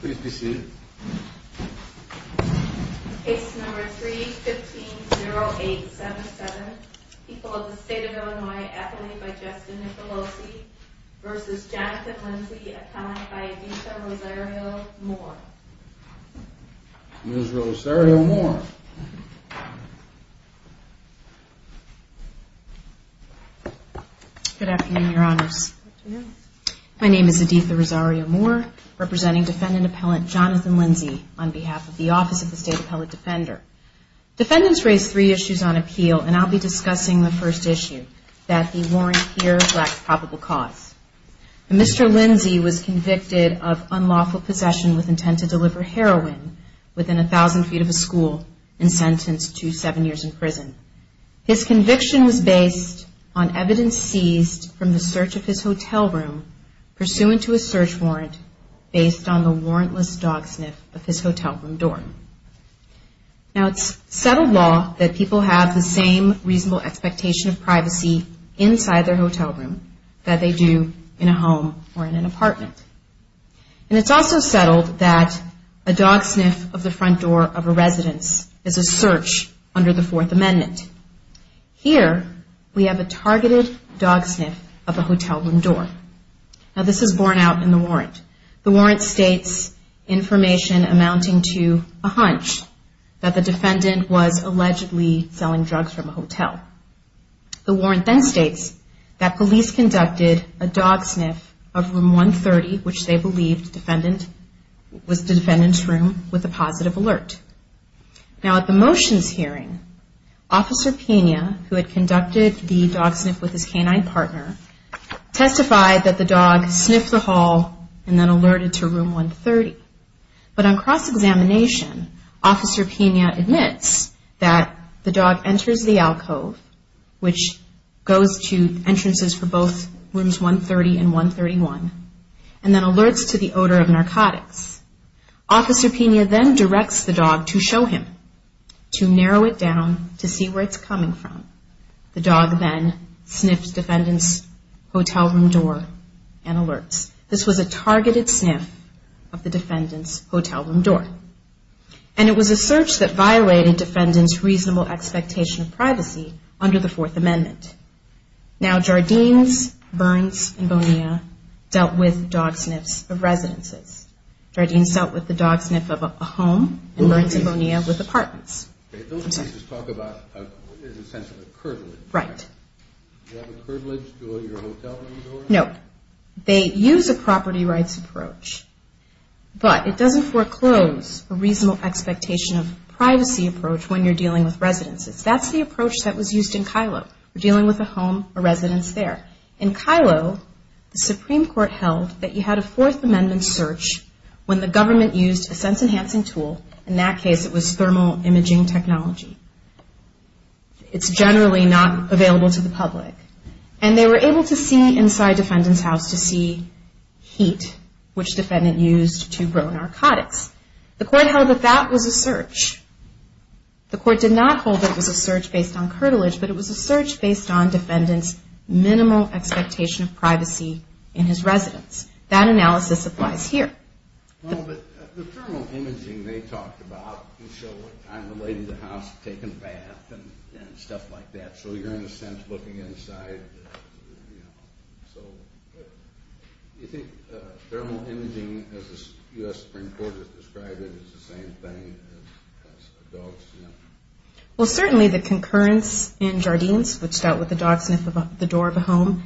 Please be seated. Case number 3-15-08-77. People of the State of Illinois. Appellee by Justin Nicolosi v. Jonathan Lindsey. Appellee by Editha Rosario Moore. Ms. Rosario Moore. Good afternoon, Your Honors. My name is Editha Rosario Moore, representing Defendant Appellant Jonathan Lindsey on behalf of the Office of the State Appellate Defender. Defendants raised three issues on appeal, and I'll be discussing the first issue, that the warrant here lacks probable cause. Mr. Lindsey was convicted of unlawful possession with intent to deliver heroin within 1,000 feet of a school and sentenced to seven years in prison. His conviction was based on evidence seized from the search of his hotel room pursuant to a search warrant based on the warrantless dog sniff of his hotel room door. Now, it's settled law that people have the same reasonable expectation of privacy inside their hotel room that they do in a home or in an apartment. And it's also settled that a dog sniff of the front door of a residence is a search under the Fourth Amendment. Here, we have a targeted dog sniff of a hotel room door. Now, this is borne out in the warrant. The warrant states information amounting to a hunch that the defendant was allegedly selling drugs from a hotel. The warrant then states that police conducted a dog sniff of Room 130, which they believed was the defendant's room, with a positive alert. Now, at the motions hearing, Officer Pena, who had conducted the dog sniff with his canine partner, testified that the dog sniffed the hall and then alerted to Room 130. But on cross-examination, Officer Pena admits that the dog enters the alcove, which goes to entrances for both Rooms 130 and 131, and then alerts to the odor of narcotics. Officer Pena then directs the dog to show him, to narrow it down, to see where it's coming from. The dog then sniffed defendant's hotel room door and alerts. This was a targeted sniff of the defendant's hotel room door. And it was a search that violated defendant's reasonable expectation of privacy under the Fourth Amendment. Now, Jardines, Burns, and Bonilla dealt with dog sniffs of residences. Jardines dealt with the dog sniff of a home, and Burns and Bonilla with apartments. Those cases talk about a sense of a privilege. Right. Do you have a privilege to go to your hotel room door? No. They use a property rights approach. But it doesn't foreclose a reasonable expectation of privacy approach when you're dealing with residences. That's the approach that was used in Kylo. You're dealing with a home, a residence there. In Kylo, the Supreme Court held that you had a Fourth Amendment search when the government used a sense-enhancing tool. In that case, it was thermal imaging technology. It's generally not available to the public. And they were able to see inside defendant's house to see heat, which defendant used to grow narcotics. The court held that that was a search. The court did not hold that it was a search based on curtilage, but it was a search based on defendant's minimal expectation of privacy in his residence. That analysis applies here. Well, but the thermal imaging they talked about would show what time the lady in the house had taken a bath and stuff like that. So you're, in a sense, looking inside. So do you think thermal imaging, as the U.S. Supreme Court has described it, is the same thing as a dog sniff? Well, certainly the concurrence in Jardines, which dealt with the dog sniff of the door of a home,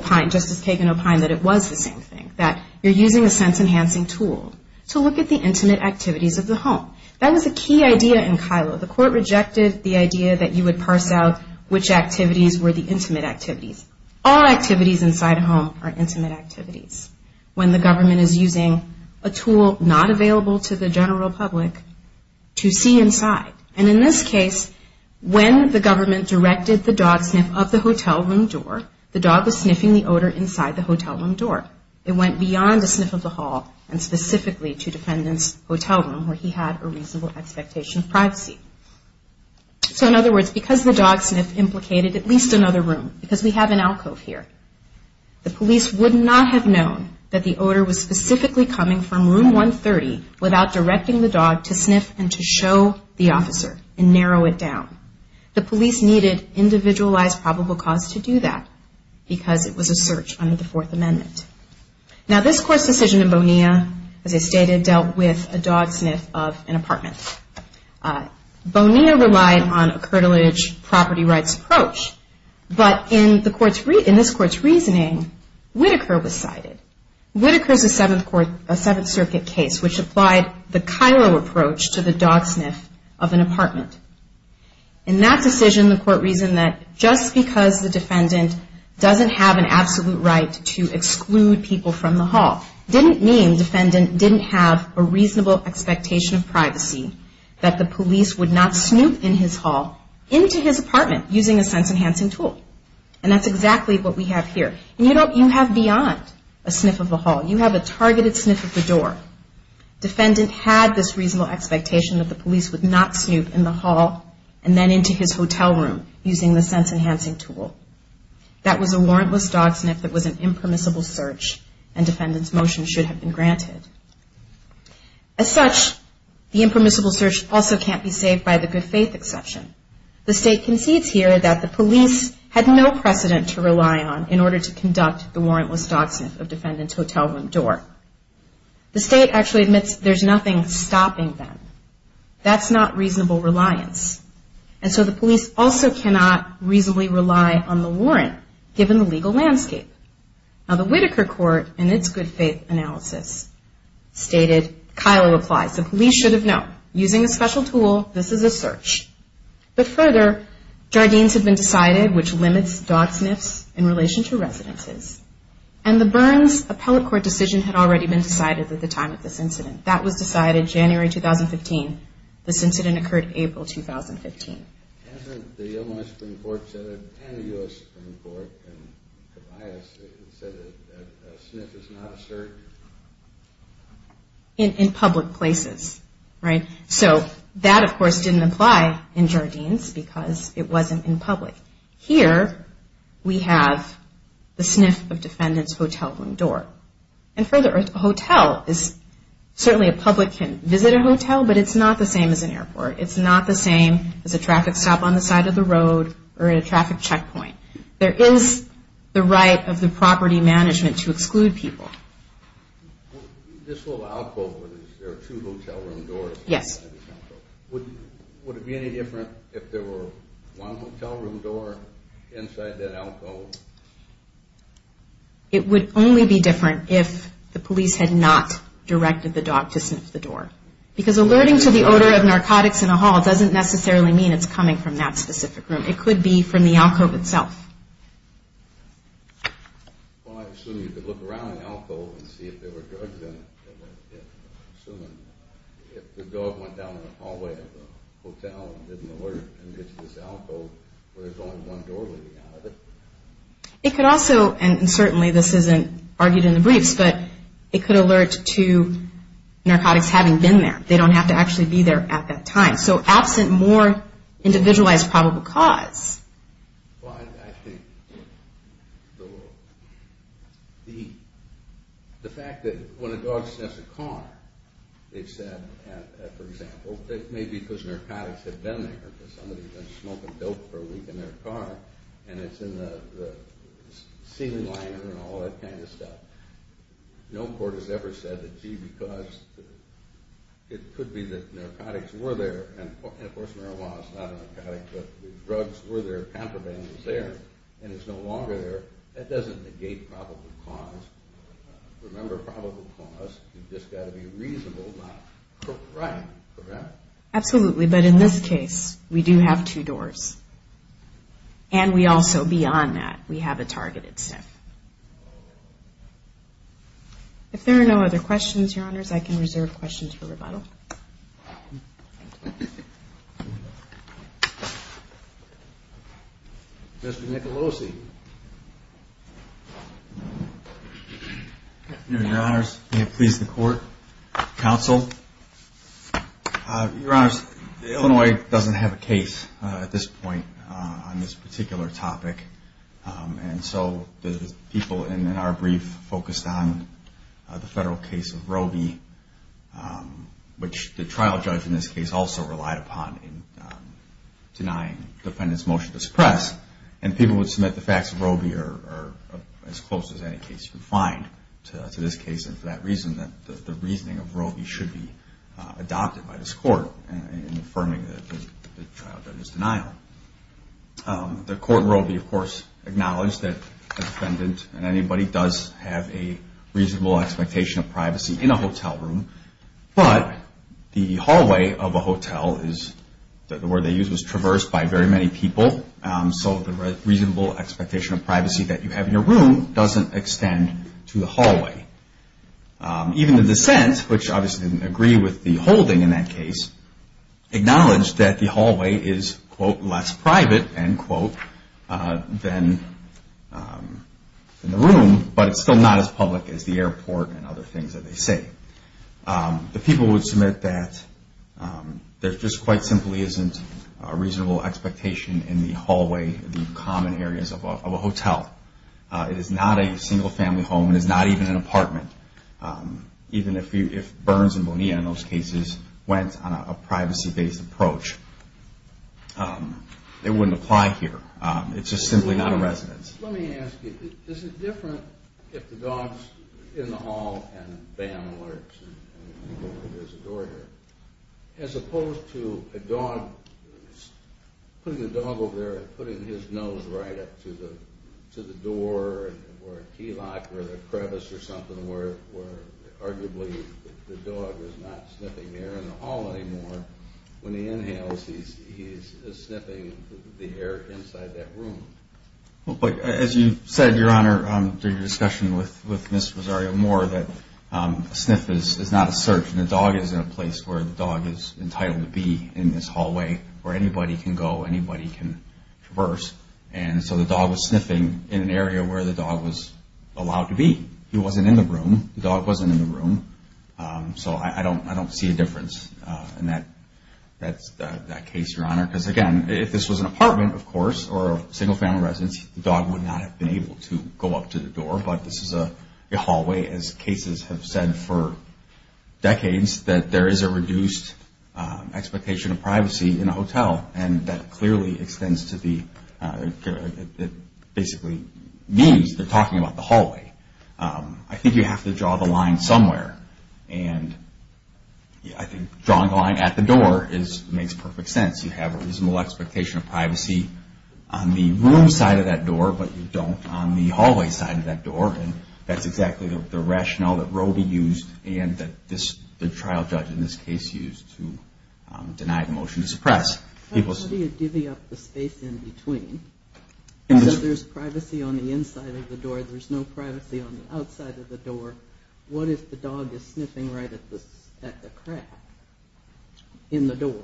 just as Kagan opined that it was the same thing, that you're using a sense-enhancing tool to look at the intimate activities of the home. That was a key idea in Kylo. The court rejected the idea that you would parse out which activities were the intimate activities. All activities inside a home are intimate activities. When the government is using a tool not available to the general public to see inside, and in this case, when the government directed the dog sniff of the hotel room door, the dog was sniffing the odor inside the hotel room door. It went beyond a sniff of the hall and specifically to the defendant's hotel room where he had a reasonable expectation of privacy. So in other words, because the dog sniff implicated at least another room, because we have an alcove here, the police would not have known that the odor was specifically coming from room 130 without directing the dog to sniff and to show the officer and narrow it down. The police needed individualized probable cause to do that because it was a search under the Fourth Amendment. Now this court's decision in Bonilla, as I stated, dealt with a dog sniff of an apartment. Bonilla relied on a curtilage property rights approach, but in this court's reasoning, Whitaker was cited. Whitaker's a Seventh Circuit case which applied the Cairo approach to the dog sniff of an apartment. In that decision, the court reasoned that just because the defendant doesn't have an absolute right to exclude people from the hall didn't mean the defendant didn't have a reasonable expectation of privacy that the police would not snoop in his hall, into his apartment, using a sense-enhancing tool. And that's exactly what we have here. You have beyond a sniff of the hall. You have a targeted sniff of the door. Defendant had this reasonable expectation that the police would not snoop in the hall and then into his hotel room using the sense-enhancing tool. That was a warrantless dog sniff that was an impermissible search and defendant's motion should have been granted. As such, the impermissible search also can't be saved by the good faith exception. The state concedes here that the police had no precedent to rely on in order to conduct the warrantless dog sniff of defendant's hotel room door. The state actually admits there's nothing stopping them. That's not reasonable reliance. And so the police also cannot reasonably rely on the warrant, given the legal landscape. Now, the Whitaker court, in its good faith analysis, stated, Cairo applies. The police should have known. Using a special tool, this is a search. But further, Jardines had been decided, which limits dog sniffs in relation to residences. And the Burns appellate court decision had already been decided at the time of this incident. That was decided January 2015. This incident occurred April 2015. Hasn't the Illinois Supreme Court said, and the U.S. Supreme Court, and Tobias have said that a sniff is not a search? In public places. Right? So that, of course, didn't apply in Jardines because it wasn't in public. Here, we have the sniff of defendant's hotel room door. And further, a hotel is, certainly a public can visit a hotel, but it's not the same as an airport. It's not the same as a traffic stop on the side of the road or at a traffic checkpoint. There is the right of the property management to exclude people. This little outquote, is there two hotel room doors? Yes. Would it be any different if there were one hotel room door inside that outquote? It would only be different if the police had not directed the dog to sniff the door. Because alerting to the odor of narcotics in a hall doesn't necessarily mean it's coming from that specific room. It could be from the outquote itself. Well, I assume you could look around the outquote and see if there were drugs in it. Assuming if the dog went down the hallway of the hotel and didn't alert and gets this outquote, where there's only one door leading out of it. It could also, and certainly this isn't argued in the briefs, but it could alert to narcotics having been there. They don't have to actually be there at that time. So absent more individualized probable cause. Well, I think the fact that when a dog sniffs a car, they've said, for example, it may be because narcotics have been there because somebody's been smoking dope for a week in their car and it's in the ceiling liner and all that kind of stuff. No court has ever said that because it could be that narcotics were there, and of course marijuana is not a narcotic, but the drugs were there, pampermint was there, and it's no longer there. That doesn't negate probable cause. Remember probable cause. You've just got to be reasonable, not correct, correct? Absolutely. But in this case, we do have two doors. And we also, beyond that, we have a targeted sniff. If there are no other questions, Your Honors, I can reserve questions for rebuttal. Mr. Nicolosi. Your Honors, may it please the Court, Counsel. Your Honors, Illinois doesn't have a case at this point on this particular topic, and so the people in our brief focused on the federal case of Roe v. which the trial judge in this case also relied upon in denying the defendant's motion to suppress, and people would submit the facts of Roe v. or as close as any case you could find to this case, and for that reason the reasoning of Roe v. should be adopted by this Court in affirming the trial judge's denial. The Court in Roe v. of course acknowledged that the defendant and anybody does have a reasonable expectation of privacy in a hotel room, but the hallway of a hotel is, the word they used was traversed by very many people, so the reasonable expectation of privacy that you have in your room doesn't extend to the hallway. Even the dissent, which obviously didn't agree with the holding in that case, acknowledged that the hallway is, quote, less private, end quote, than the room, but it's still not as public as the airport and other things that they say. The people would submit that there just quite simply isn't a reasonable expectation in the hallway, the common areas of a hotel. It is not a single family home. It is not even an apartment, even if Burns and Bonilla in those cases went on a privacy-based approach. It wouldn't apply here. It's just simply not a residence. Let me ask you, is it different if the dog's in the hall and bam, alerts, and there's a door here, as opposed to a dog putting his nose right up to the door or a key lock or a crevice or something where arguably the dog is not sniffing air in the hall anymore, when he inhales, he's sniffing the air inside that room? As you said, Your Honor, through your discussion with Ms. Rosario Moore, that a sniff is not a search, and the dog is in a place where the dog is entitled to be in this hallway where anybody can go, anybody can traverse, and so the dog was sniffing in an area where the dog was allowed to be. He wasn't in the room. The dog wasn't in the room. So I don't see a difference in that case, Your Honor, because again, if this was an apartment, of course, or a single family residence, the dog would not have been able to go up to the door, but this is a hallway, as cases have said for decades, that there is a reduced expectation of privacy in a hotel, and that clearly extends to the, basically means they're talking about the hallway. I think you have to draw the line somewhere, and I think drawing the line at the door makes perfect sense. You have a reasonable expectation of privacy on the room side of that door, but you don't on the hallway side of that door, and that's exactly the rationale that Roby used and that the trial judge in this case used to deny the motion to suppress. How do you divvy up the space in between? There's privacy on the inside of the door. There's no privacy on the outside of the door. What if the dog is sniffing right at the crack in the door?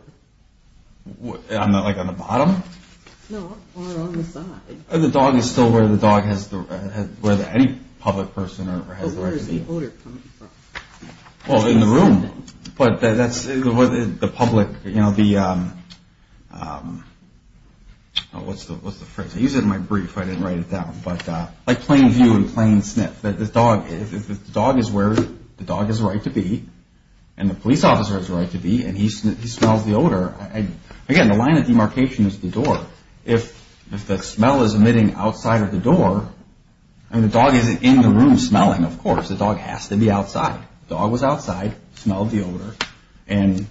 On the bottom? No, or on the side. The dog is still where the dog has the right to be? Any public person has the right to be. But where is the odor coming from? Well, in the room, but that's the public. What's the phrase? I used it in my brief. I didn't write it down, but like plain view and plain sniff. The dog is where the dog has the right to be, and the police officer has the right to be, and he smells the odor. Again, the line of demarcation is the door. If the smell is emitting outside of the door, the dog isn't in the room smelling, of course. The dog has to be outside. The dog was outside, smelled the odor, and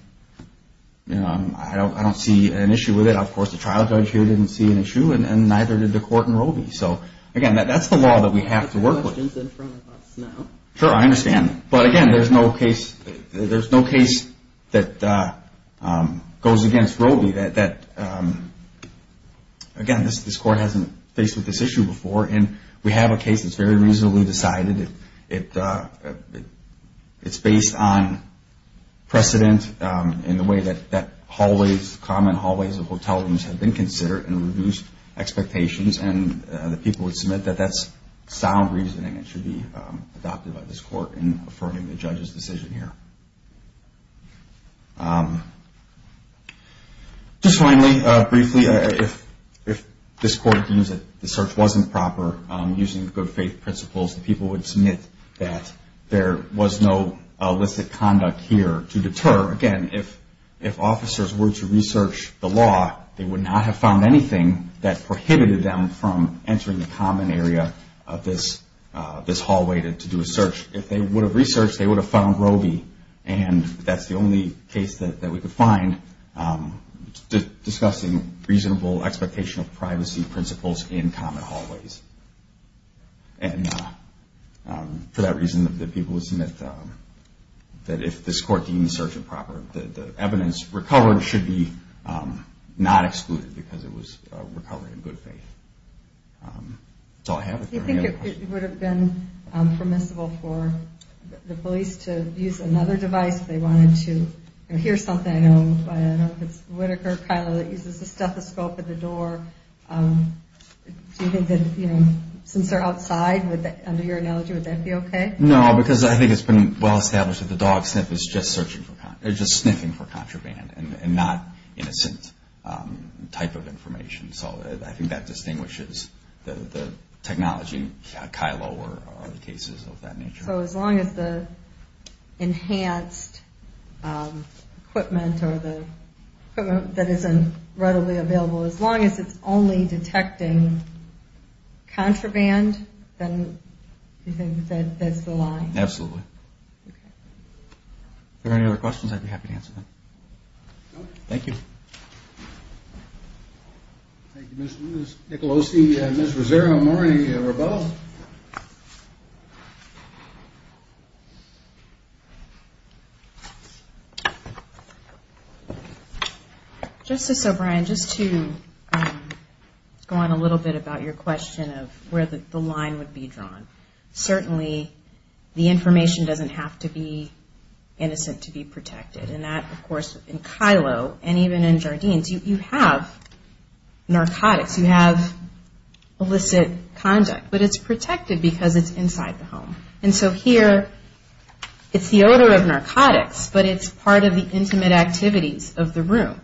I don't see an issue with it. Of course, the trial judge here didn't see an issue, and neither did the court and Roby. Again, that's the law that we have to work with. Sure, I understand. But, again, there's no case that goes against Roby that, again, this court hasn't faced with this issue before, and we have a case that's very reasonably decided. It's based on precedent in the way that hallways, common hallways of hotel rooms have been considered and reduced expectations, and the people would submit that that's sound reasoning that should be adopted by this court in affirming the judge's decision here. Just finally, briefly, if this court deems that the search wasn't proper, using the good faith principles, the people would submit that there was no illicit conduct here to deter. Again, if officers were to research the law, they would not have found anything that prohibited them from entering the common area of this hallway to do a search. If they would have researched, they would have found Roby, and that's the only case that we could find discussing reasonable expectation of privacy principles in common hallways. For that reason, the people would submit that if this court deems the search improper, the evidence recovered should be not excluded because it was recovered in good faith. That's all I have. Do you think it would have been permissible for the police to use another device if they wanted to hear something? I know it's Whitaker, Kyla, that uses a stethoscope at the door. Do you think that since they're outside, under your analogy, would that be okay? No, because I think it's been well established that the dog sniff is just searching for content. They're just sniffing for contraband and not innocent type of information. So I think that distinguishes the technology, Kyla or other cases of that nature. So as long as the enhanced equipment or the equipment that isn't readily available, as long as it's only detecting contraband, then you think that's the line? Absolutely. If there are any other questions, I'd be happy to answer them. Thank you. Thank you, Ms. Nicolosi. Ms. Rosario-Morini-Rabeau. Justice O'Brien, just to go on a little bit about your question of where the line would be drawn. Certainly the information doesn't have to be innocent to be protected. And that, of course, in Kylo and even in Jardines, you have narcotics. You have illicit conduct. But it's protected because it's inside the home. And so here it's the odor of narcotics, but it's part of the intimate activities of the room.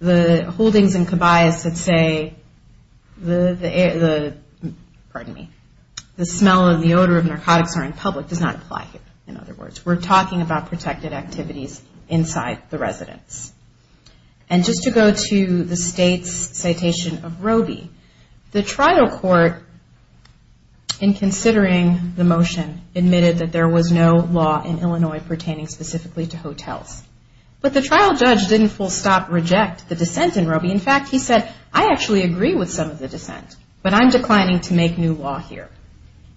The holdings in Cabayas that say the smell and the odor of narcotics are in public does not apply here. In other words, we're talking about protected activities inside the residence. And just to go to the state's citation of Roby, the trial court, in considering the motion, admitted that there was no law in Illinois pertaining specifically to hotels. But the trial judge didn't full stop reject the dissent in Roby. In fact, he said, I actually agree with some of the dissent, but I'm declining to make new law here.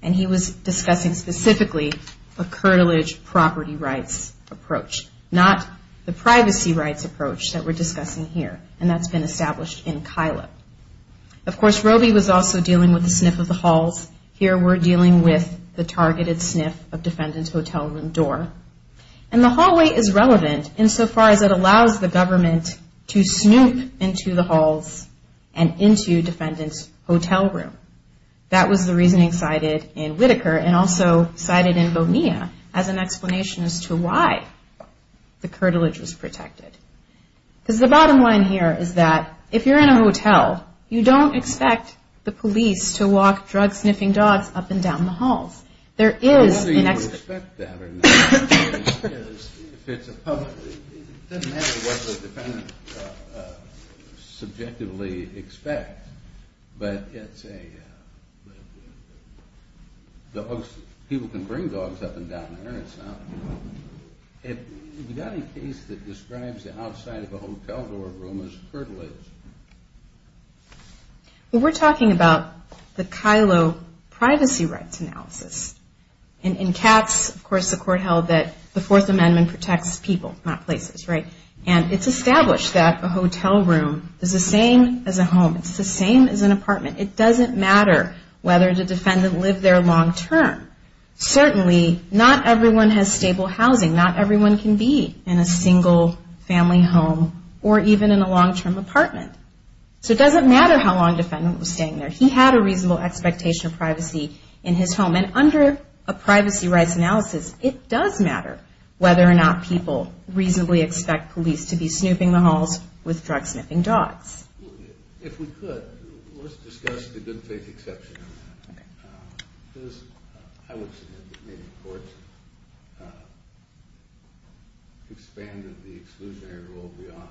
And he was discussing specifically a curtilage property rights approach, not the privacy rights approach that we're discussing here, and that's been established in Kylo. Of course, Roby was also dealing with the sniff of the halls. Here we're dealing with the targeted sniff of defendant's hotel room door. And the hallway is relevant in so far as it allows the government to snoop into the halls and into defendant's hotel room. That was the reasoning cited in Whitaker and also cited in Bonilla as an explanation as to why the curtilage was protected. Because the bottom line here is that if you're in a hotel, you don't expect the police to walk drug-sniffing dogs up and down the halls. There is an expectation. I don't know whether you would expect that or not. If it's a public, it doesn't matter what the defendant subjectively expects. But it's a, people can bring dogs up and down there and stuff. We've got a case that describes the outside of a hotel room as curtilage. Well, we're talking about the Kylo privacy rights analysis. In Katz, of course, the court held that the Fourth Amendment protects people, not places, right? And it's established that a hotel room is the same as a home. It's the same as an apartment. It doesn't matter whether the defendant lived there long-term. Certainly, not everyone has stable housing. Not everyone can be in a single-family home or even in a long-term apartment. So it doesn't matter how long the defendant was staying there. He had a reasonable expectation of privacy in his home. And under a privacy rights analysis, it does matter whether or not people reasonably expect police to be snooping the halls with drug-sniffing dogs. If we could, let's discuss the good faith exception. Because I would suggest that maybe the courts expanded the exclusionary rule beyond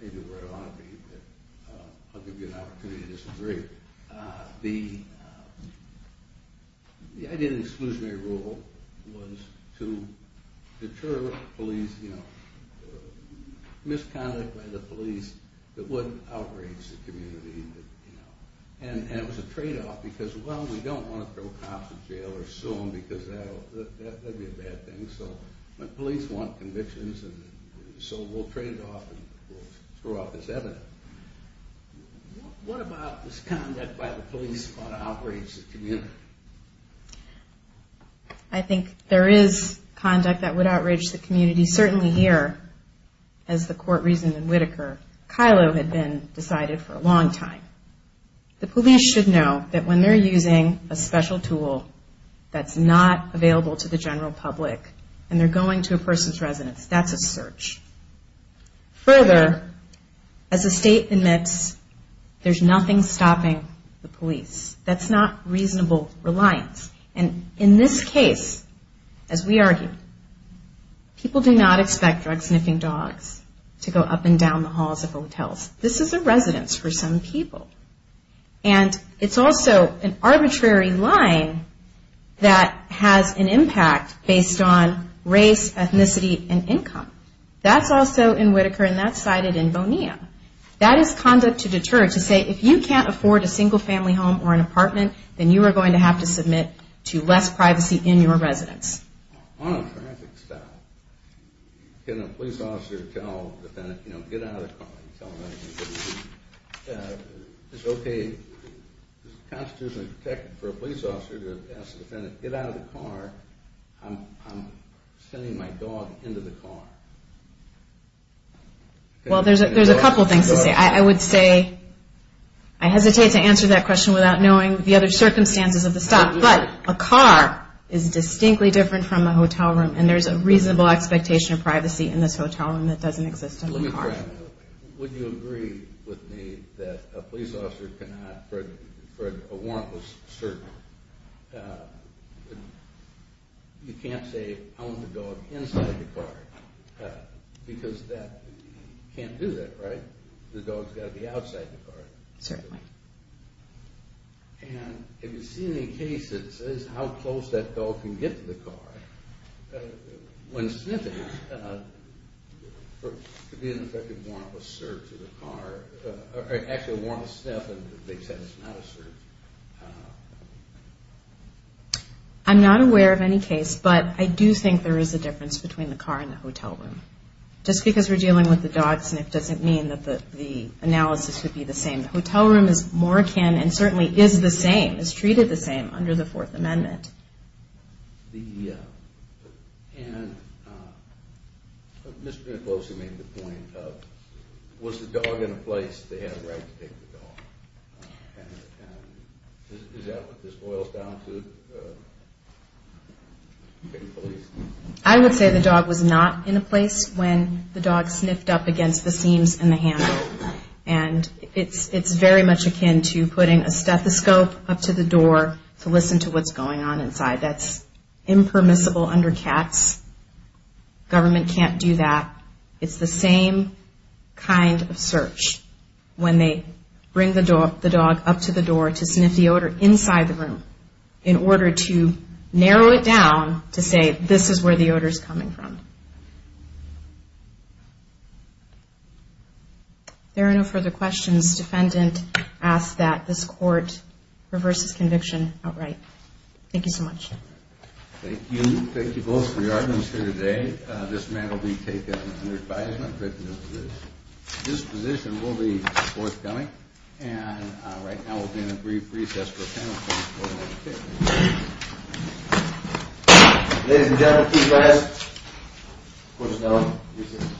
maybe where it ought to be, but I'll give you an opportunity to disagree. The idea of the exclusionary rule was to deter police, you know, conduct by the police that would outrage the community. And it was a tradeoff because, well, we don't want to throw cops in jail or sue them because that would be a bad thing. So the police want convictions, so we'll trade it off and throw out this evidence. What about this conduct by the police ought to outrage the community? I think there is conduct that would outrage the community. Certainly here, as the court reasoned in Whitaker, Kylo had been decided for a long time. The police should know that when they're using a special tool that's not available to the general public and they're going to a person's residence, that's a search. Further, as the state admits, there's nothing stopping the police. That's not reasonable reliance. And in this case, as we argued, people do not expect drug-sniffing dogs to go up and down the halls of hotels. This is a residence for some people. And it's also an arbitrary line that has an impact based on race, ethnicity, and income. That's also in Whitaker, and that's cited in Bonilla. That is conduct to deter, to say, if you can't afford a single-family home or an apartment, then you are going to have to submit to less privacy in your residence. On a traffic stop, can a police officer tell a defendant, you know, get out of the car? Is it okay, is the Constitution protected for a police officer to ask a defendant, get out of the car? I'm sending my dog into the car. Well, there's a couple things to say. I would say I hesitate to answer that question without knowing the other circumstances of the stop. But a car is distinctly different from a hotel room, and there's a reasonable expectation of privacy in this hotel room that doesn't exist in the car. Let me correct you. Would you agree with me that a police officer cannot, for a warrantless search, you can't say, I want the dog inside the car, because that can't do that, right? The dog's got to be outside the car. Certainly. And if you see any case that says how close that dog can get to the car, when sniffing, for a warrantless search of the car, or actually a warrantless sniff, and they said it's not a search. I'm not aware of any case, but I do think there is a difference between the car and the hotel room. Just because we're dealing with the dog sniff doesn't mean that the analysis would be the same. The hotel room is more akin and certainly is the same, is treated the same under the Fourth Amendment. And Mr. D'Ambrosio made the point of, was the dog in a place they had a right to take the dog? And is that what this boils down to, taking the police? I would say the dog was not in a place when the dog sniffed up against the seams in the handle. And it's very much akin to putting a stethoscope up to the door to listen to what's going on inside. That's impermissible under cats. Government can't do that. It's the same kind of search when they bring the dog up to the door to sniff the odor inside the room, in order to narrow it down to say, this is where the odor is coming from. If there are no further questions, defendant asks that this court reverse his conviction outright. Thank you so much. Thank you. Thank you both for your attendance here today. This man will be taken under advisement, written disposition. This disposition will be forthcoming. And right now we'll be in a brief recess for a panel discussion. Ladies and gentlemen, please rise. Court is now in recess.